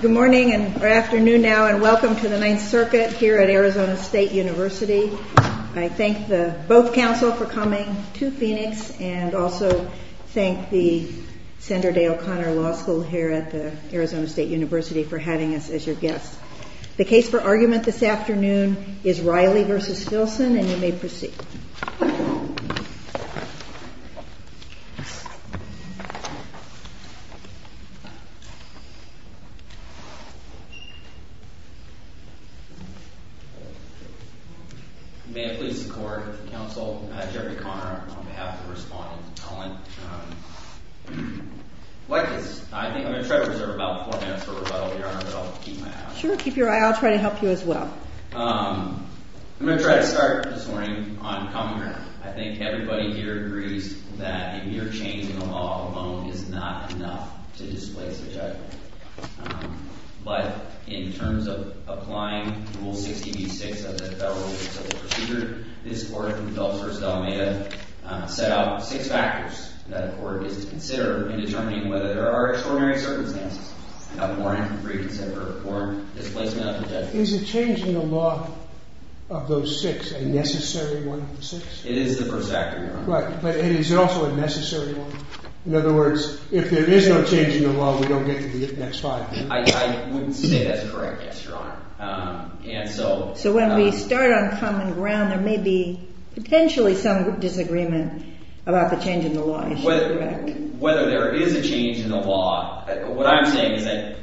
Good morning, or afternoon now, and welcome to the Ninth Circuit here at Arizona State University. I thank both counsel for coming to Phoenix, and also thank the Sandra Day O'Connor Law School here at the Arizona State University for having us as your guests. The case for argument this afternoon is Riley versus Filson, and you may proceed. May it please the court, counsel, Jerry Conner on behalf of Respondents Appellant. I think I'm going to try to reserve about four minutes for rebuttal, Your Honor, but I'll keep my eye out. Sure, keep your eye out. I'll try to help you as well. I'm going to try to start this morning on comment. I think everybody here agrees that a mere change in the law alone is not enough to displace a judge. But in terms of applying Rule 60B-6 of the Federal Civil Procedure, this Court from Dulce v. Almeda set out six factors that a court is to consider in determining whether there are extraordinary circumstances about warrant, reconsider, or displacement of a judge. Is a change in the law of those six a necessary one of the six? It is the first factor, Your Honor. Right, but is it also a necessary one? In other words, if there is no change in the law, we don't get to the next five, do we? I wouldn't say that's correct, yes, Your Honor. So when we start on common ground, there may be potentially some disagreement about the change in the law. Whether there is a change in the law, what I'm saying is that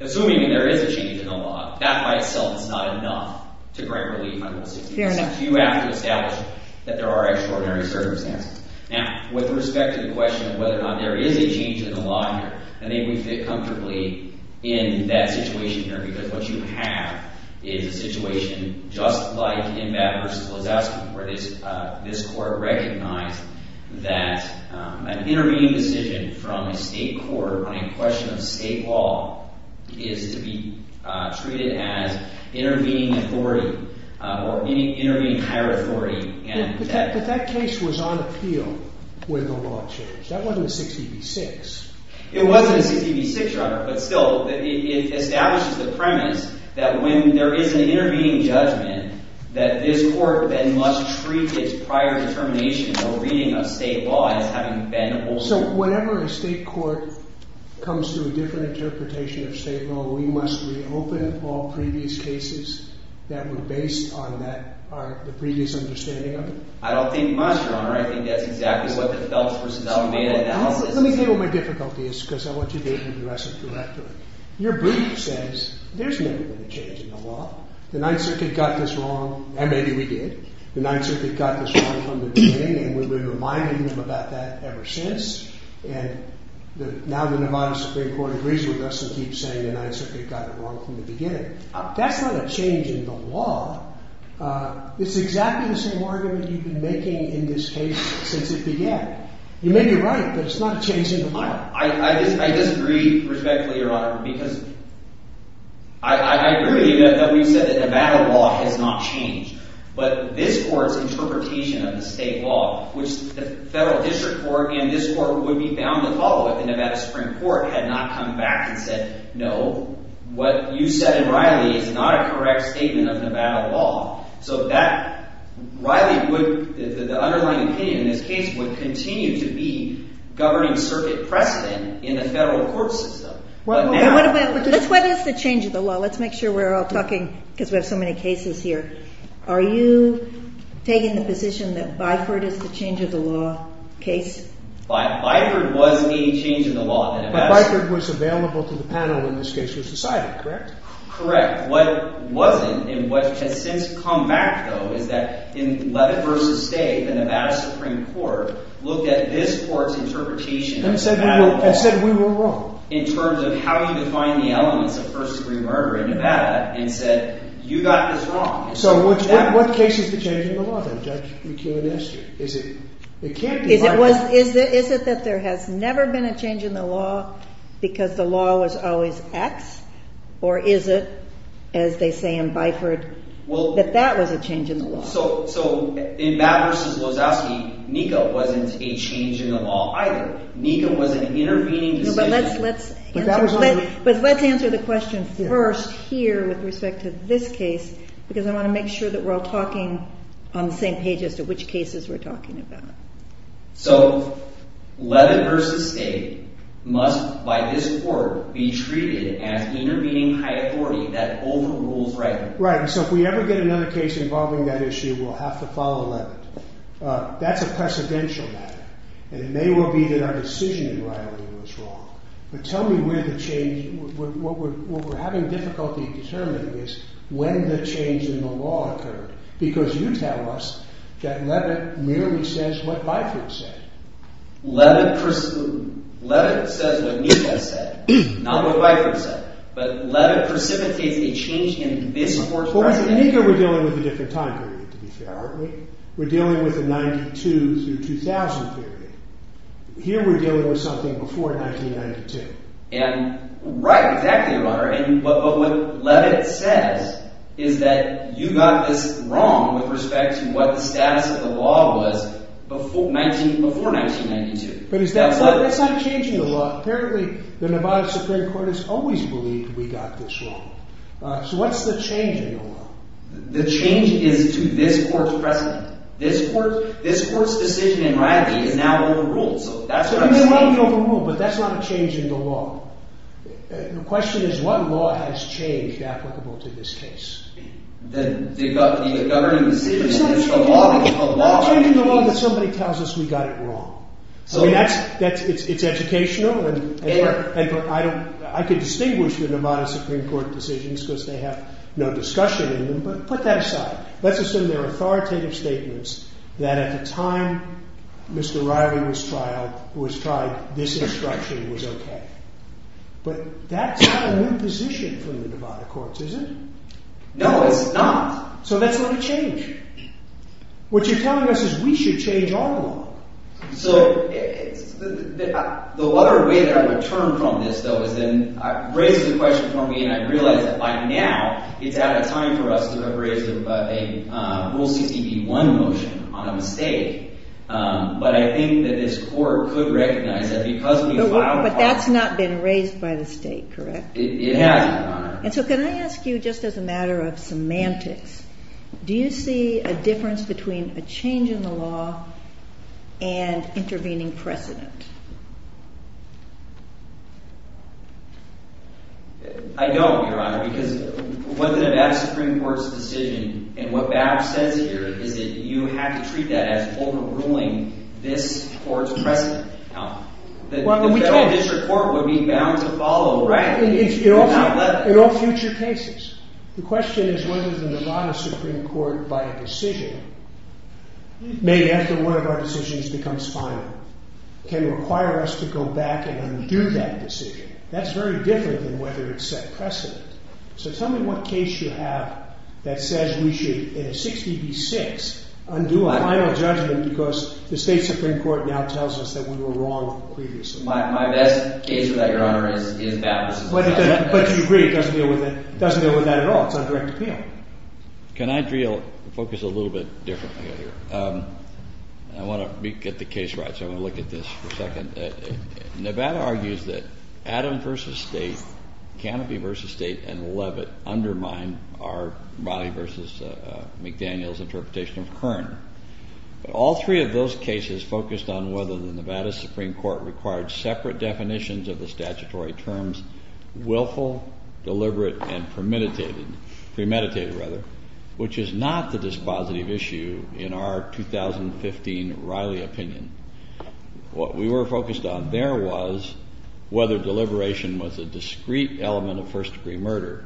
assuming there is a change in the law, that by itself is not enough to grant relief under Rule 60B-6. You have to establish that there are extraordinary circumstances. Now, with respect to the question of whether or not there is a change in the law here, I think we fit comfortably in that situation here, because what you have is a situation just like in Babb v. Lozowski, where this court recognized that an intervening decision from a state court on a question of state law is to be treated as intervening authority, or intervening higher authority. But that case was on appeal when the law changed. That wasn't 60B-6. It wasn't 60B-6, Your Honor. But still, it establishes the premise that when there is an intervening judgment, that this court then must treat its prior determination or reading of state law as having been older. So whenever a state court comes to a different interpretation of state law, we must reopen all previous cases that were based on the previous understanding of it? I don't think much, Your Honor. I think that's exactly what the Feltz v. O'Meara analysis is. Let me tell you what my difficulty is, because I want you to be able to address it correctly. Your brief says there's never been a change in the law. The Ninth Circuit got this wrong, and maybe we did. The Ninth Circuit got this wrong from the beginning, and we've been reminding them about that ever since. And now the Nevada Supreme Court agrees with us and keeps saying the Ninth Circuit got it wrong from the beginning. That's not a change in the law. It's exactly the same argument you've been making in this case since it began. You may be right, but it's not a change in the law. I disagree respectfully, Your Honor, because I agree with you that we've said that Nevada law has not changed. But this court's interpretation of the state law, which the federal district court and this court would be bound to follow if the Nevada Supreme Court had not come back and said, no, what you said in Riley is not a correct statement of Nevada law. So Riley would, the underlying opinion in this case, would continue to be governing circuit precedent in the federal court system. But now- Let's whether it's the change of the law. Let's make sure we're all talking, because we have so many cases here. Are you taking the position that Biford is the change of the law case? Biford wasn't any change in the law in Nevada. But Biford was available to the panel, in this case, with society, correct? Correct. In fact, what wasn't, and what has since come back, though, is that in Leavitt v. State, the Nevada Supreme Court looked at this court's interpretation of Nevada law- And said we were wrong. In terms of how you define the elements of first degree murder in Nevada and said, you got this wrong. So what case is the change in the law, then, Judge McKeown? Is it that there has never been a change in the law because the law was always X? Or is it, as they say in Biford, that that was a change in the law? So in Batt v. Wazowski, NECA wasn't a change in the law either. NECA was an intervening decision. But let's answer the question first here with respect to this case, because I want to make sure that we're all talking on the same page as to which cases we're talking about. So Leavitt v. State must, by this court, be treated as intervening high authority that overrules right. Right, and so if we ever get another case involving that issue, we'll have to follow Leavitt. That's a precedential matter. And it may well be that our decision in Riley was wrong. But tell me where the change- What we're having difficulty determining is when the change in the law occurred. Because you tell us that Leavitt merely says what Biford said. Leavitt says what NECA said. Not what Biford said. But Leavitt precipitates a change in this court's- But with NECA we're dealing with a different time period, to be fair, aren't we? We're dealing with the 92 through 2000 period. Here we're dealing with something before 1992. Right, exactly, Your Honor. But what Leavitt says is that you got this wrong with respect to what the status of the law was before 1992. But that's not changing the law. Apparently the Nevada Supreme Court has always believed we got this wrong. So what's the change in the law? The change is to this court's precedent. This court's decision in Riley is now overruled. So you may well be overruled, but that's not a change in the law. The question is what law has changed applicable to this case? Then the governing decision is a law. It's not a change in the law that somebody tells us we got it wrong. I mean, it's educational. I could distinguish the Nevada Supreme Court decisions because they have no discussion in them, but put that aside. Let's assume they're authoritative statements that at the time Mr. Riley was tried, this instruction was okay. But that's not a new position from the Nevada courts, is it? No, it's not. So that's not a change. What you're telling us is we should change our law. So the other way that I would turn from this, though, is then raise the question for me, and I realize that by now it's out of time for us to have raised a Rule 60b-1 motion on a mistake. But I think that this court could recognize that because we filed a claim— But that's not been raised by the state, correct? It hasn't, Your Honor. And so can I ask you, just as a matter of semantics, do you see a difference between a change in the law and intervening precedent? I don't, Your Honor, because the Nevada Supreme Court's decision and what Babs says here is that you have to treat that as overruling this court's precedent. The federal district court would be bound to follow, right? In all future cases. The question is whether the Nevada Supreme Court, by a decision made after one of our decisions becomes final, can require us to go back and undo that decision. That's very different than whether it's set precedent. So tell me what case you have that says we should, in a 60b-6, undo a final judgment because the state Supreme Court now tells us that we were wrong previously. My best case for that, Your Honor, is Babs v. Nevada. But you agree it doesn't deal with that at all. It's undirected appeal. Can I focus a little bit differently here? I want to get the case right, so I'm going to look at this for a second. Nevada argues that Adam v. State, Canopy v. State, and Levitt undermine our—Rodney v. McDaniel's—interpretation of Kern. All three of those cases focused on whether the Nevada Supreme Court required separate definitions of the statutory terms willful, deliberate, and premeditated, which is not the dispositive issue in our 2015 Riley opinion. What we were focused on there was whether deliberation was a discrete element of first-degree murder.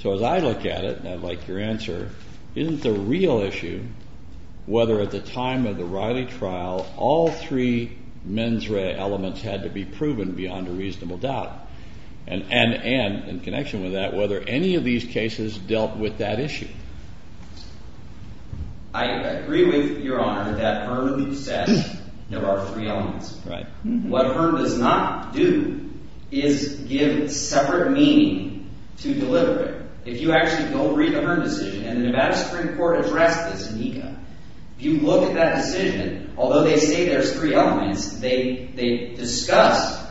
So as I look at it, and I'd like your answer, isn't the real issue whether at the time of the Riley trial all three mens rea elements had to be proven beyond a reasonable doubt, and in connection with that, whether any of these cases dealt with that issue? I agree with Your Honor that Kern said there are three elements. What Kern does not do is give separate meaning to deliberate. If you actually go read the Kern decision, and the Nevada Supreme Court addressed this in ECA, if you look at that decision, although they say there's three elements, they discuss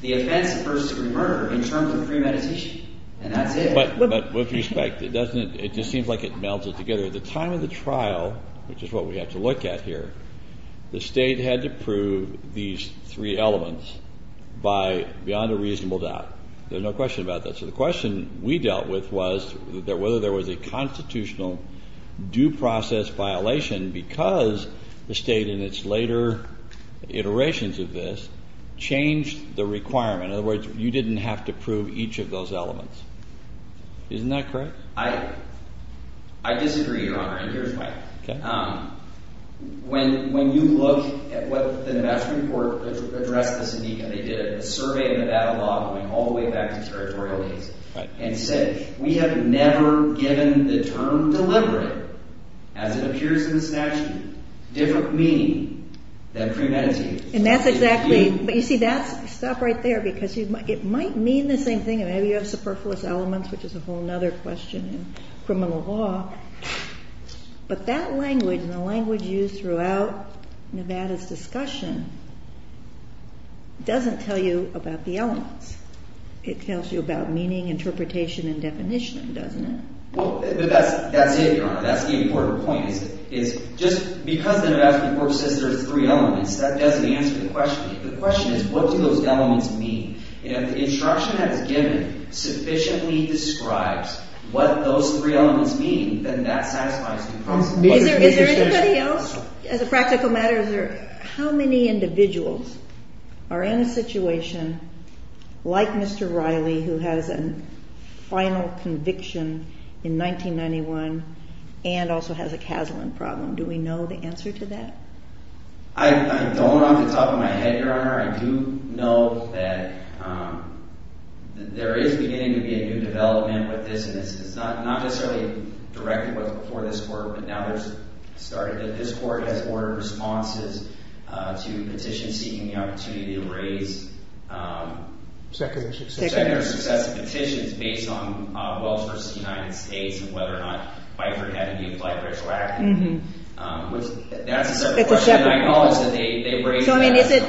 the offense of first-degree murder in terms of premeditation, and that's it. But with respect, it just seems like it melds it together. At the time of the trial, which is what we have to look at here, the State had to prove these three elements beyond a reasonable doubt. There's no question about that. So the question we dealt with was whether there was a constitutionally constitutional due process violation because the State in its later iterations of this changed the requirement. In other words, you didn't have to prove each of those elements. Isn't that correct? I disagree, Your Honor, and here's why. When you look at what the Nevada Supreme Court addressed in ECA, they did a survey of Nevada law going all the way back to territorial legislation, and said we have never given the term deliberate, as it appears in the statute, different meaning than premeditated. And that's exactly – but you see, that's – stop right there because it might mean the same thing. Maybe you have superfluous elements, which is a whole other question in criminal law. But that language and the language used throughout Nevada's discussion doesn't tell you about the elements. It tells you about meaning, interpretation, and definition, doesn't it? But that's it, Your Honor. That's the important point is just because the Nevada Supreme Court says there's three elements, that doesn't answer the question. The question is what do those elements mean? And if the instruction that is given sufficiently describes what those three elements mean, then that satisfies the promise. Is there anybody else? As a practical matter, how many individuals are in a situation like Mr. Riley, who has a final conviction in 1991 and also has a Kaslan problem? Do we know the answer to that? I don't off the top of my head, Your Honor. I do know that there is beginning to be a new development with this. And it's not necessarily directed before this court, but now there's – this court has ordered responses to petitions seeking the opportunity to raise secondary success petitions based on Welch v. United States and whether or not Byford had a new flag racial act. That's a separate question. I acknowledge that they raised that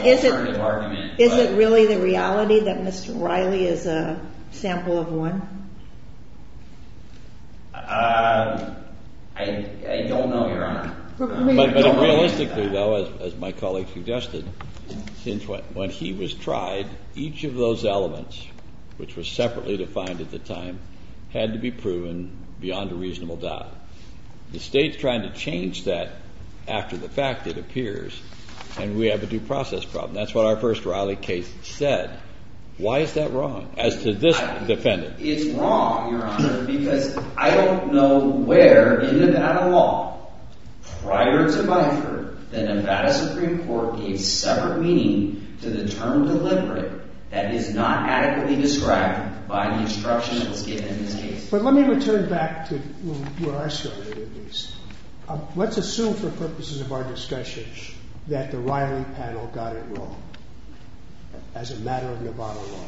as an alternative argument. Is it really the reality that Mr. Riley is a sample of one? I don't know, Your Honor. But realistically, though, as my colleague suggested, when he was tried, each of those elements, which were separately defined at the time, had to be proven beyond a reasonable doubt. The State's trying to change that after the fact, it appears, and we have a due process problem. That's what our first Riley case said. Why is that wrong as to this defendant? It's wrong, Your Honor, because I don't know where in Nevada law prior to Byford the Nevada Supreme Court gave separate meaning to the term deliberate that is not adequately described by the instructions given in this case. But let me return back to where I started, at least. Let's assume for purposes of our discussion that the Riley panel got it wrong as a matter of Nevada law.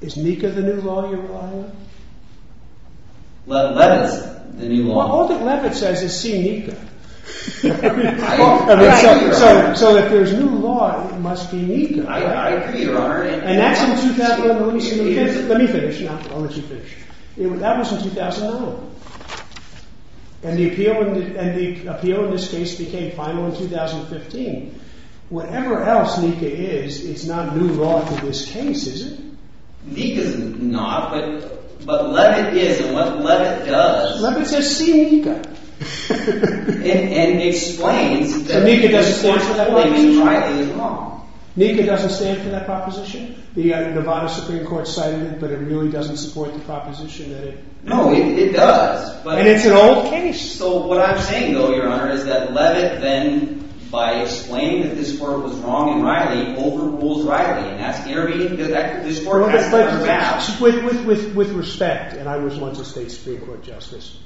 Is Mika the new law, Your Honor? Levitz, the new law. All that Levitz says is see Mika. I agree, Your Honor. So if there's new law, it must be Mika. I agree, Your Honor. And that's in 2001. Let me finish. I'll let you finish. That was in 2001. And the appeal in this case became final in 2015. Whatever else Mika is, it's not new law to this case, is it? Mika's not, but Levitz is, and what Levitz does. Levitz says, see Mika. And explains that the instruction given in Riley is wrong. Mika doesn't stand for that proposition. The Nevada Supreme Court cited it, but it really doesn't support the proposition. No, it does. And it's an old case. So what I'm saying, though, Your Honor, is that Levitz then, by explaining that this court was wrong in Riley, overrules Riley. And that's irritating because this court has no grounds. With respect, and I was once a state Supreme Court justice,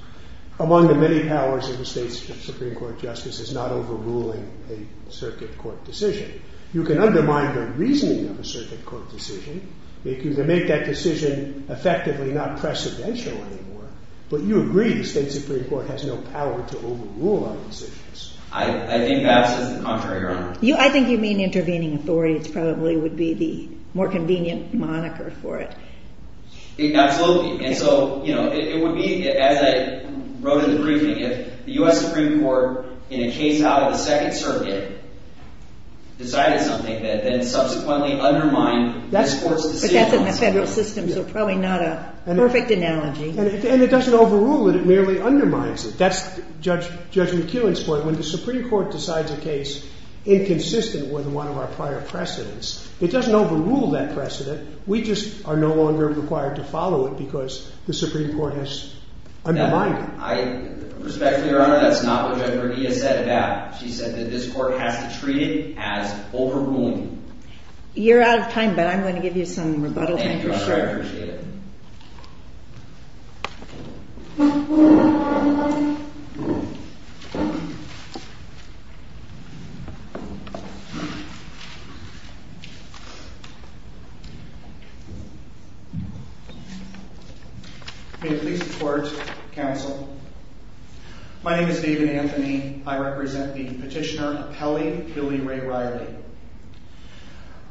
among the many powers of the state Supreme Court justice is not overruling a circuit court decision. You can undermine the reasoning of a circuit court decision to make that decision effectively not precedential anymore, but you agree the state Supreme Court has no power to overrule our decisions. I think that's just the contrary, Your Honor. I think you mean intervening authorities probably would be the more convenient moniker for it. Absolutely. And so it would be, as I wrote in the briefing, if the U.S. Supreme Court, in a case out of the Second Circuit, decided something that then subsequently undermined this court's decision. But that's in the federal system, so probably not a perfect analogy. And it doesn't overrule it. It merely undermines it. That's Judge McKeown's point. When the Supreme Court decides a case inconsistent with one of our prior precedents, it doesn't overrule that precedent. We just are no longer required to follow it because the Supreme Court has undermined it. Respectfully, Your Honor, that's not what Judge Bernia said about it. She said that this court has to treat it as overruling. You're out of time, but I'm going to give you some rebuttal. Thank you, Your Honor. I appreciate it. May it please the Court, counsel. My name is David Anthony. I represent the petitioner, Appelli Billy Ray Riley.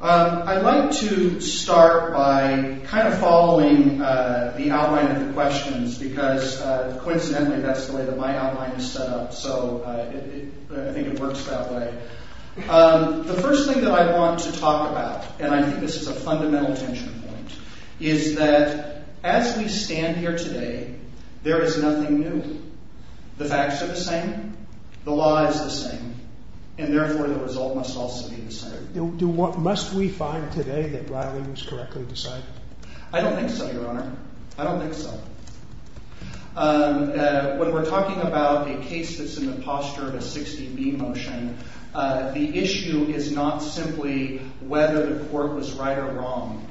I'd like to start by kind of following the outline of the questions because, coincidentally, that's the way that my outline is set up, so I think it works that way. The first thing that I want to talk about, and I think this is a fundamental tension point, is that as we stand here today, there is nothing new. The facts are the same. The law is the same. And therefore, the result must also be the same. Must we find today that Riley was correctly decided? I don't think so, Your Honor. I don't think so. When we're talking about a case that's in the posture of a 60B motion, the issue is not simply whether the court was right or wrong.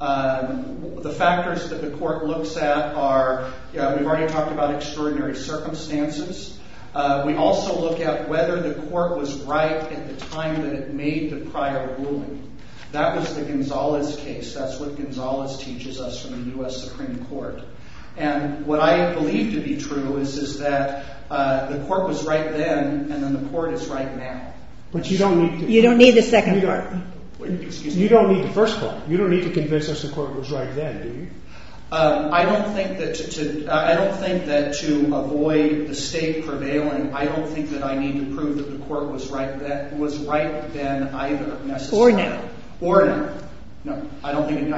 The factors that the court looks at are, we've already talked about extraordinary circumstances. We also look at whether the court was right at the time that it made the prior ruling. That was the Gonzalez case. That's what Gonzalez teaches us from the U.S. Supreme Court. And what I believe to be true is that the court was right then, and then the court is right now. But you don't need to. You don't need the second part. You don't need the first part. You don't need to convince us the court was right then, do you? I don't think that to avoid the state prevailing, I don't think that I need to prove that the court was right then either, necessarily. Or now. Or now. No, I don't think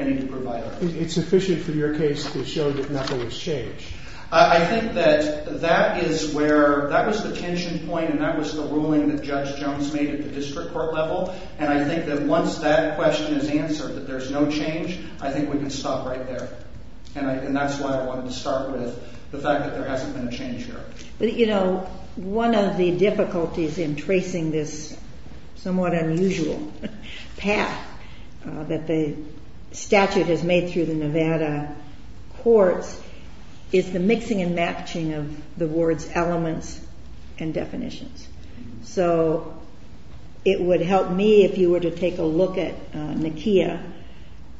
I need to provide that. It's sufficient for your case to show that nothing has changed. I think that that is where, that was the tension point, and that was the ruling that Judge Jones made at the district court level. And I think that once that question is answered, that there's no change, I think we can stop right there. And that's why I wanted to start with the fact that there hasn't been a change here. You know, one of the difficulties in tracing this somewhat unusual path that the statute has made through the Nevada courts is the mixing and matching of the ward's elements and definitions. So it would help me if you were to take a look at NECIA,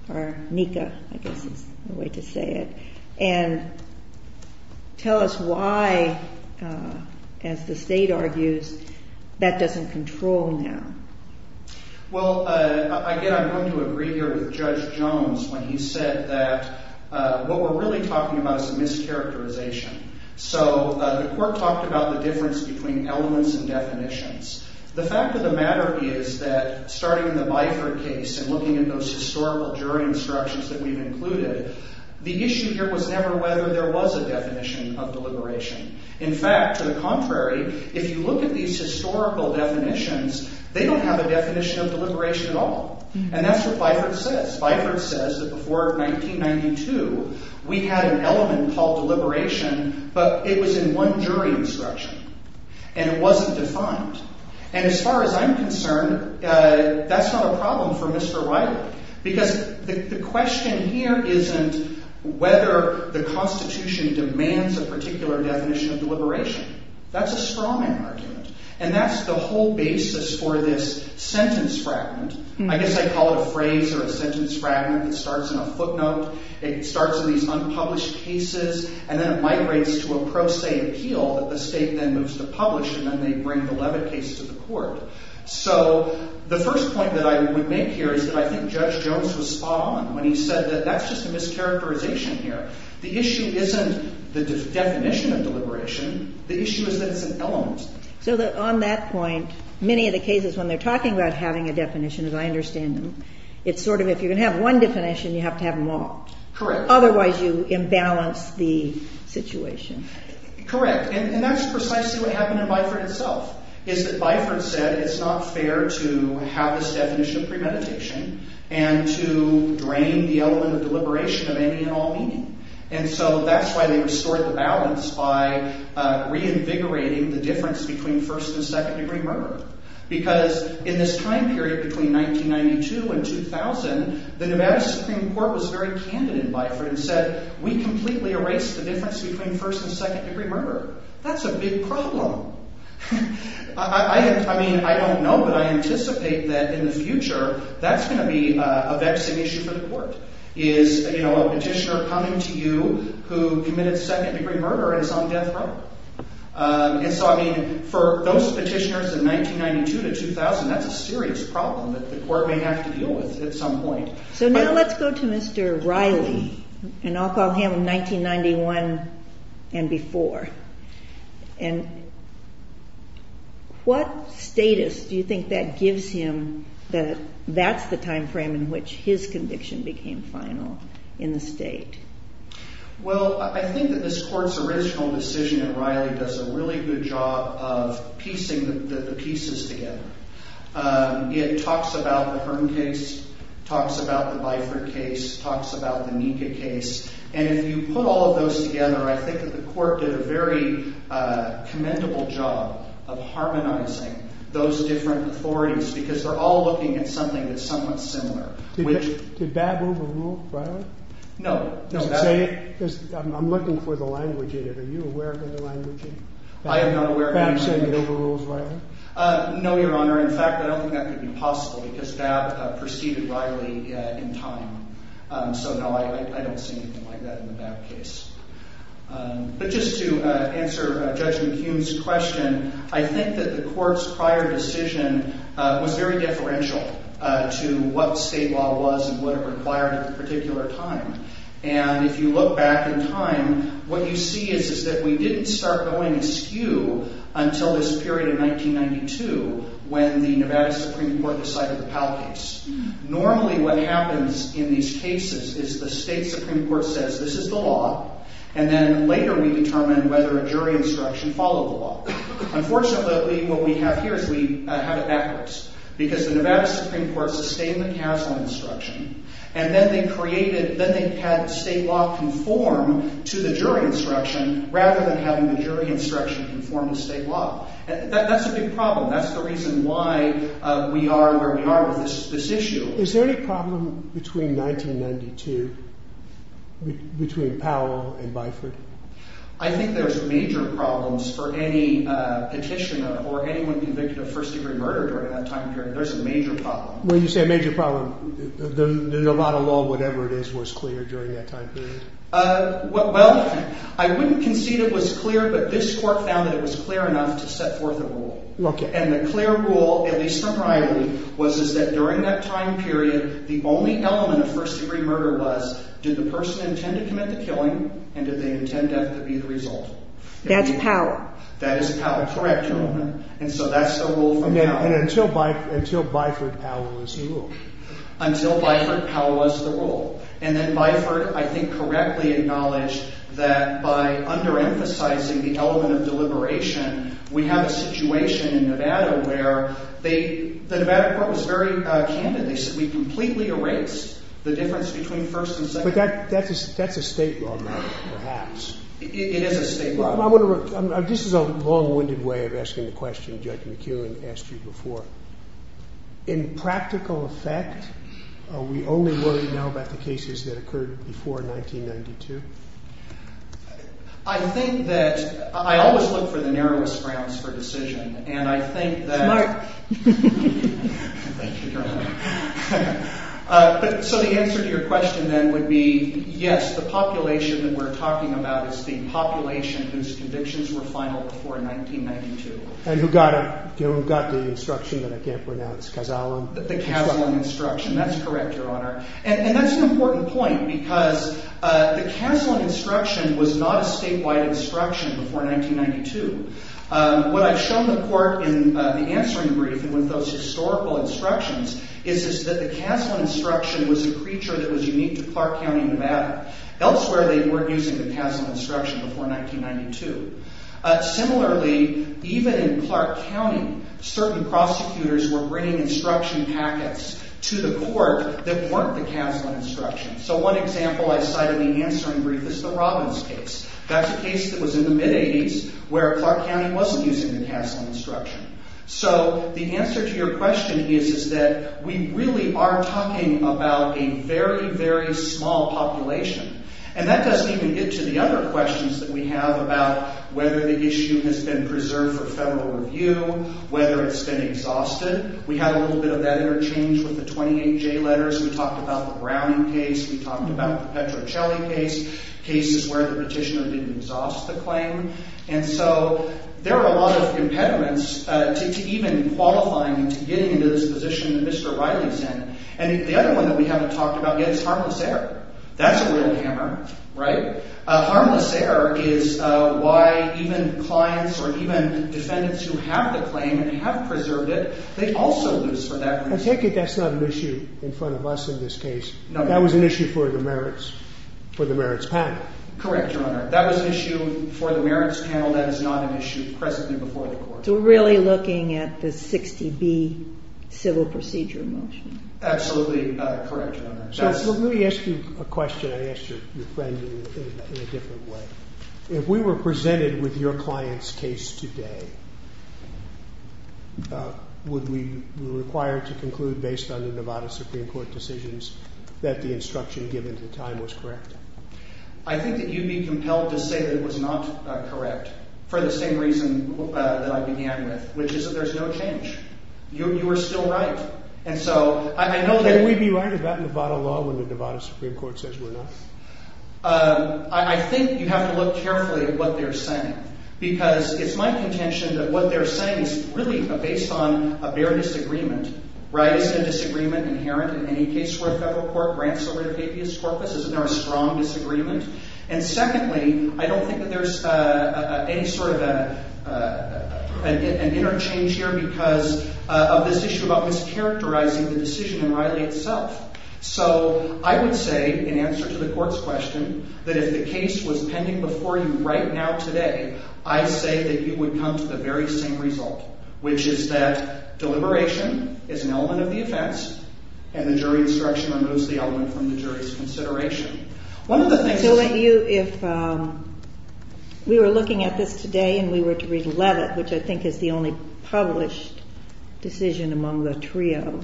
or NECA, I guess is the way to say it, and tell us why, as the state argues, that doesn't control now. Well, again, I'm going to agree here with Judge Jones when he said that what we're really talking about is a mischaracterization. So the court talked about the difference between elements and definitions. The fact of the matter is that starting in the Bifert case and looking at those historical jury instructions that we've included, the issue here was never whether there was a definition of deliberation. In fact, to the contrary, if you look at these historical definitions, they don't have a definition of deliberation at all. And that's what Bifert says. Bifert says that before 1992, we had an element called deliberation, but it was in one jury instruction, and it wasn't defined. And as far as I'm concerned, that's not a problem for Mr. Riley, because the question here isn't whether the Constitution demands a particular definition of deliberation. That's a strawman argument, and that's the whole basis for this sentence fragment. I guess I call it a phrase or a sentence fragment that starts in a footnote. It starts in these unpublished cases, and then it migrates to a pro se appeal that the state then moves to publish, and then they bring the Levitt case to the court. So the first point that I would make here is that I think Judge Jones was spot on when he said that that's just a mischaracterization here. The issue isn't the definition of deliberation. The issue is that it's an element. So on that point, many of the cases when they're talking about having a definition, as I understand them, it's sort of if you're going to have one definition, you have to have them all. Correct. Otherwise you imbalance the situation. Correct, and that's precisely what happened in Bifert itself, is that Bifert said it's not fair to have this definition of premeditation and to drain the element of deliberation of any and all meaning. And so that's why they restored the balance by reinvigorating the difference between first and second degree murder. Because in this time period between 1992 and 2000, the Nevada Supreme Court was very candid in Bifert and said, we completely erased the difference between first and second degree murder. That's a big problem. I mean, I don't know, but I anticipate that in the future, that's going to be a vexing issue for the court. Is a petitioner coming to you who committed second degree murder and is on death row? And so, I mean, for those petitioners in 1992 to 2000, that's a serious problem that the court may have to deal with at some point. So now let's go to Mr. Riley, and I'll call him 1991 and before. And what status do you think that gives him that that's the time frame in which his conviction became final in the state? Well, I think that this court's original decision at Riley does a really good job of piecing the pieces together. It talks about the Hearn case, talks about the Bifert case, talks about the Nika case. And if you put all of those together, I think that the court did a very commendable job of harmonizing those different authorities, because they're all looking at something that's somewhat similar. Did Babb overrule Riley? No. I'm looking for the language in it. Are you aware of any language in it? I am not aware of any language. Babb said it overrules Riley? No, Your Honor. In fact, I don't think that could be possible, because Babb preceded Riley in time. So no, I don't see anything like that in the Babb case. But just to answer Judge McHugh's question, I think that the court's prior decision was very deferential to what state law was and what it required at the particular time. And if you look back in time, what you see is that we didn't start going askew until this period in 1992 when the Nevada Supreme Court decided the Powell case. Normally what happens in these cases is the state Supreme Court says, this is the law, and then later we determine whether a jury instruction followed the law. Unfortunately, what we have here is we have it backwards, because the Nevada Supreme Court sustained the Castle instruction, and then they had state law conform to the jury instruction rather than having the jury instruction conform to state law. And that's a big problem. That's the reason why we are where we are with this issue. Is there any problem between 1992, between Powell and Byford? I think there's major problems for any petitioner or anyone convicted of first-degree murder during that time period. There's a major problem. When you say a major problem, the Nevada law, whatever it is, was clear during that time period? Well, I wouldn't concede it was clear, but this court found that it was clear enough to set forth a rule. And the clear rule, at least for priority, was that during that time period, the only element of first-degree murder was, did the person intend to commit the killing, and did they intend death to be the result? That's Powell. That is Powell. Correct. And so that's the rule from Powell. And until Byford, Powell was the rule. Until Byford, Powell was the rule. And then Byford, I think, correctly acknowledged that by under-emphasizing the element of deliberation, we have a situation in Nevada where the Nevada court was very candid. They said we completely erased the difference between first and second degree murder. But that's a state law matter, perhaps. It is a state law matter. This is a long-winded way of asking the question Judge McKeown asked you before. In practical effect, are we only worried now about the cases that occurred before 1992? I think that I always look for the narrowest grounds for decision. And I think that— Thank you, Your Honor. So the answer to your question then would be yes, the population that we're talking about is the population whose convictions were final before 1992. And who got it. Who got the instruction that I can't pronounce. Kazalon. The Kazalon instruction. That's correct, Your Honor. And that's an important point because the Kazalon instruction was not a statewide instruction before 1992. What I've shown the court in the answering brief with those historical instructions is that the Kazalon instruction was a creature that was unique to Clark County, Nevada. Elsewhere, they weren't using the Kazalon instruction before 1992. Similarly, even in Clark County, certain prosecutors were bringing instruction packets to the court that weren't the Kazalon instruction. So one example I cite in the answering brief is the Robbins case. That's a case that was in the mid-'80s where Clark County wasn't using the Kazalon instruction. So the answer to your question is that we really are talking about a very, very small population. And that doesn't even get to the other questions that we have about whether the issue has been preserved for federal review, whether it's been exhausted. We had a little bit of that interchange with the 28J letters. We talked about the Browning case. We talked about the Petrocelli case, cases where the petitioner didn't exhaust the claim. And so there are a lot of impediments to even qualifying and to getting into this position that Mr. Riley's in. And the other one that we haven't talked about yet is harmless error. That's a real hammer, right? Harmless error is why even clients or even defendants who have the claim and have preserved it, they also lose for that reason. I take it that's not an issue in front of us in this case. That was an issue for the merits panel. Correct, Your Honor. That was an issue for the merits panel. That is not an issue presently before the court. So we're really looking at the 60B civil procedure motion. Absolutely correct, Your Honor. So let me ask you a question I asked your friend in a different way. If we were presented with your client's case today, would we be required to conclude based on the Nevada Supreme Court decisions that the instruction given at the time was correct? I think that you'd be compelled to say that it was not correct for the same reason that I began with, which is that there's no change. You were still right. Wouldn't we be right about Nevada law when the Nevada Supreme Court says we're not? I think you have to look carefully at what they're saying because it's my contention that what they're saying is really based on a bare disagreement, right? Isn't a disagreement inherent in any case where a federal court grants over the habeas corpus? Isn't there a strong disagreement? And secondly, I don't think that there's any sort of an interchange here because of this issue about mischaracterizing the decision in Riley itself. So I would say, in answer to the court's question, that if the case was pending before you right now today, I say that you would come to the very same result, which is that deliberation is an element of the offense and the jury instruction removes the element from the jury's consideration. So if we were looking at this today and we were to read Levitt, which I think is the only published decision among the trio,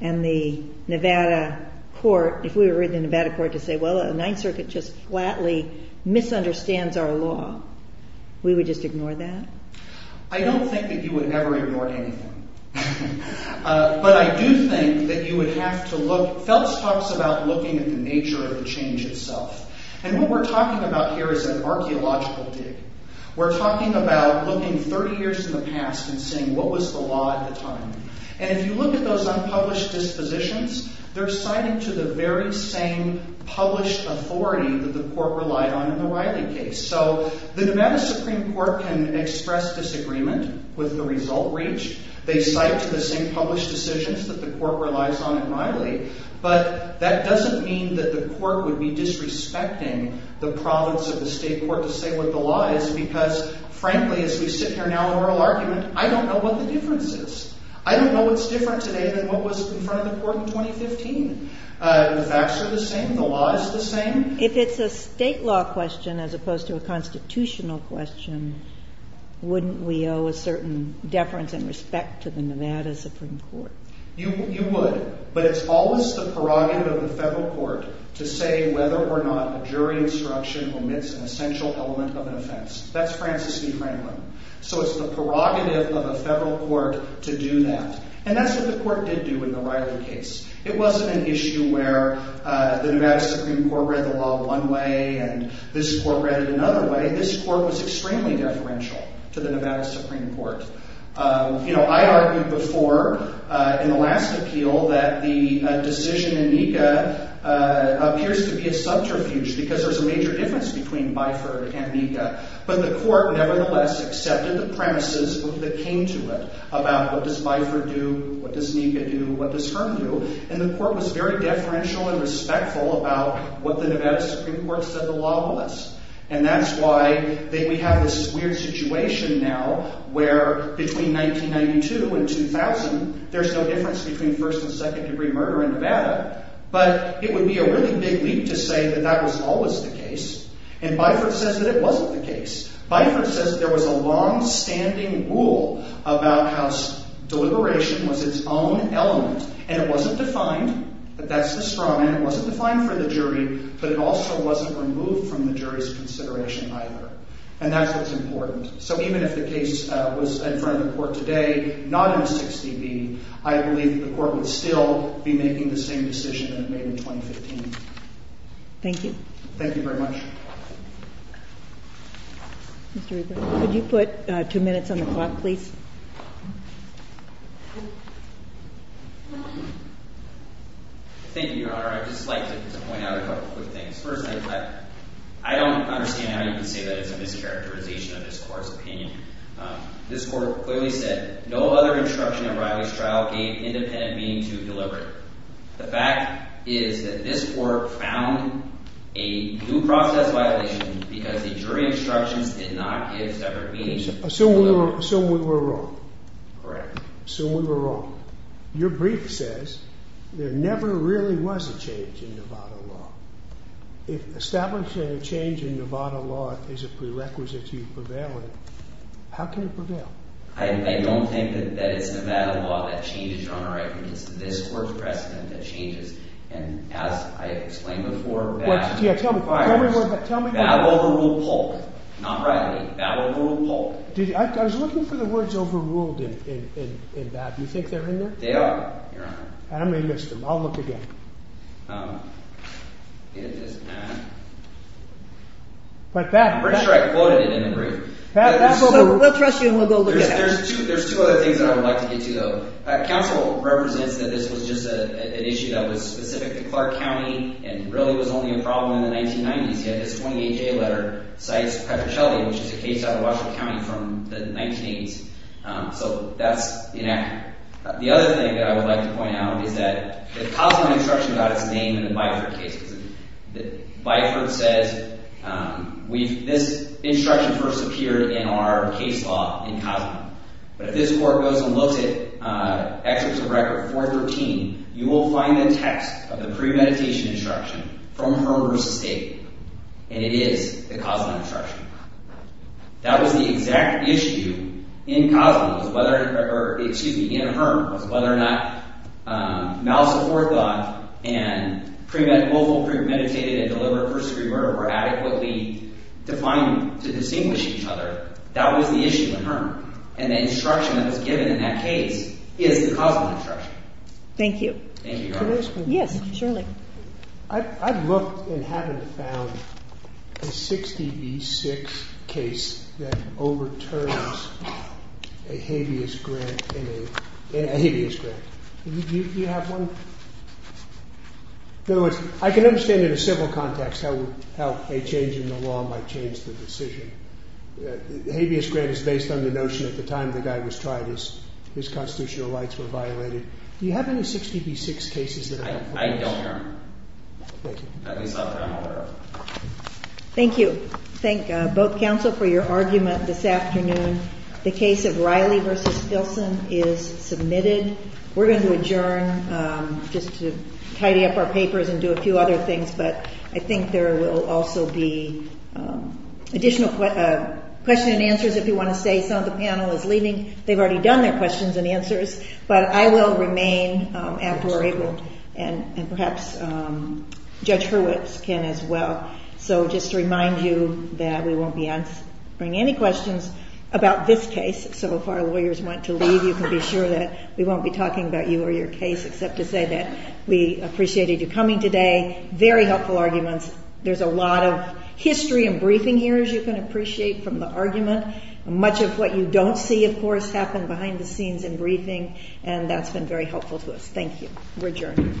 and the Nevada court – if we were in the Nevada court to say, well, the Ninth Circuit just flatly misunderstands our law, we would just ignore that? I don't think that you would ever ignore anything. But I do think that you would have to look – Phelps talks about looking at the nature of the change itself. And what we're talking about here is an archaeological dig. We're talking about looking 30 years in the past and seeing what was the law at the time. And if you look at those unpublished dispositions, they're cited to the very same published authority that the court relied on in the Riley case. So the Nevada Supreme Court can express disagreement with the result reach. They cite to the same published decisions that the court relies on in Riley. But that doesn't mean that the court would be disrespecting the province of the state court to say what the law is because, frankly, as we sit here now in oral argument, I don't know what the difference is. I don't know what's different today than what was in front of the court in 2015. The facts are the same. The law is the same. If it's a state law question as opposed to a constitutional question, wouldn't we owe a certain deference and respect to the Nevada Supreme Court? You would. But it's always the prerogative of the federal court to say whether or not a jury instruction omits an essential element of an offense. That's Francis C. Franklin. So it's the prerogative of a federal court to do that. And that's what the court did do in the Riley case. It wasn't an issue where the Nevada Supreme Court read the law one way and this court read it another way. This court was extremely deferential to the Nevada Supreme Court. You know, I argued before in the last appeal that the decision in Nika appears to be a subterfuge because there's a major difference between Byford and Nika. But the court nevertheless accepted the premises that came to it about what does Byford do, what does Nika do, what does Herm do. And the court was very deferential and respectful about what the Nevada Supreme Court said the law was. And that's why we have this weird situation now where between 1992 and 2000, there's no difference between first and second degree murder in Nevada. But it would be a really big leap to say that that was always the case. And Byford says that it wasn't the case. Byford says there was a longstanding rule about how deliberation was its own element. And it wasn't defined, but that's the straw man. It wasn't defined for the jury, but it also wasn't removed from the jury's consideration either. And that's what's important. So even if the case was in front of the court today, not in a 6dB, I believe that the court would still be making the same decision that it made in 2015. Thank you. Thank you very much. Mr. Regan, could you put two minutes on the clock, please? Thank you, Your Honor. I'd just like to point out a couple quick things. First, I don't understand how you can say that it's a mischaracterization of this court's opinion. This court clearly said no other instruction in Riley's trial gave independent meaning to deliberate. The fact is that this court found a due process violation because the jury instructions did not give separate meaning to deliberate. Assume we were wrong. Correct. Assume we were wrong. Your brief says there never really was a change in Nevada law. If establishing a change in Nevada law is a prerequisite to prevailing, how can it prevail? I don't think that it's Nevada law that changes, Your Honor. I think it's this court's precedent that changes. And as I explained before, Babb overruled Polk. Not Riley. Babb overruled Polk. I was looking for the words overruled in Babb. Do you think they're in there? They are, Your Honor. I may have missed them. I'll look again. I'm pretty sure I quoted it in the brief. We'll trust you and we'll go look at it. There's two other things that I would like to get to, though. Counsel represents that this was just an issue that was specific to Clark County and really was only a problem in the 1990s. He had this 28-J letter, cites Petrocelli, which is a case out of Washington County from the 1980s. So that's inaccurate. The other thing that I would like to point out is that the Cozumel instruction got its name in the Byford case. Byford says this instruction first appeared in our case law in Cozumel. But if this court goes and looks at Excerpts of Record 413, you will find the text of the premeditation instruction from Herm v. State, and it is the Cozumel instruction. That was the exact issue in Cozumel, or excuse me, in Herm, was whether or not mal support thought and premeditated and deliberate persecution were adequately defined to distinguish each other. That was the issue in Herm. And the instruction that was given in that case is the Cozumel instruction. Thank you. Thank you, Your Honor. Yes, Shirley. I've looked and haven't found a 60 v. 6 case that overturns a habeas grant in a – a habeas grant. Do you have one? In other words, I can understand in a civil context how a change in the law might change the decision. The habeas grant is based on the notion at the time the guy was tried his constitutional rights were violated. Do you have any 60 v. 6 cases that – I don't, Your Honor. Thank you. At least I'm aware of. Thank you. Thank both counsel for your argument this afternoon. The case of Riley v. Filson is submitted. We're going to adjourn just to tidy up our papers and do a few other things, but I think there will also be additional question and answers if you want to stay. Some of the panel is leaving. They've already done their questions and answers, but I will remain after we're able and perhaps Judge Hurwitz can as well. So just to remind you that we won't be answering any questions about this case. So if our lawyers want to leave, you can be sure that we won't be talking about you or your case except to say that we appreciated you coming today. Very helpful arguments. There's a lot of history and briefing here you can appreciate from the argument. Much of what you don't see, of course, happened behind the scenes in briefing, and that's been very helpful to us. Thank you. We're adjourned.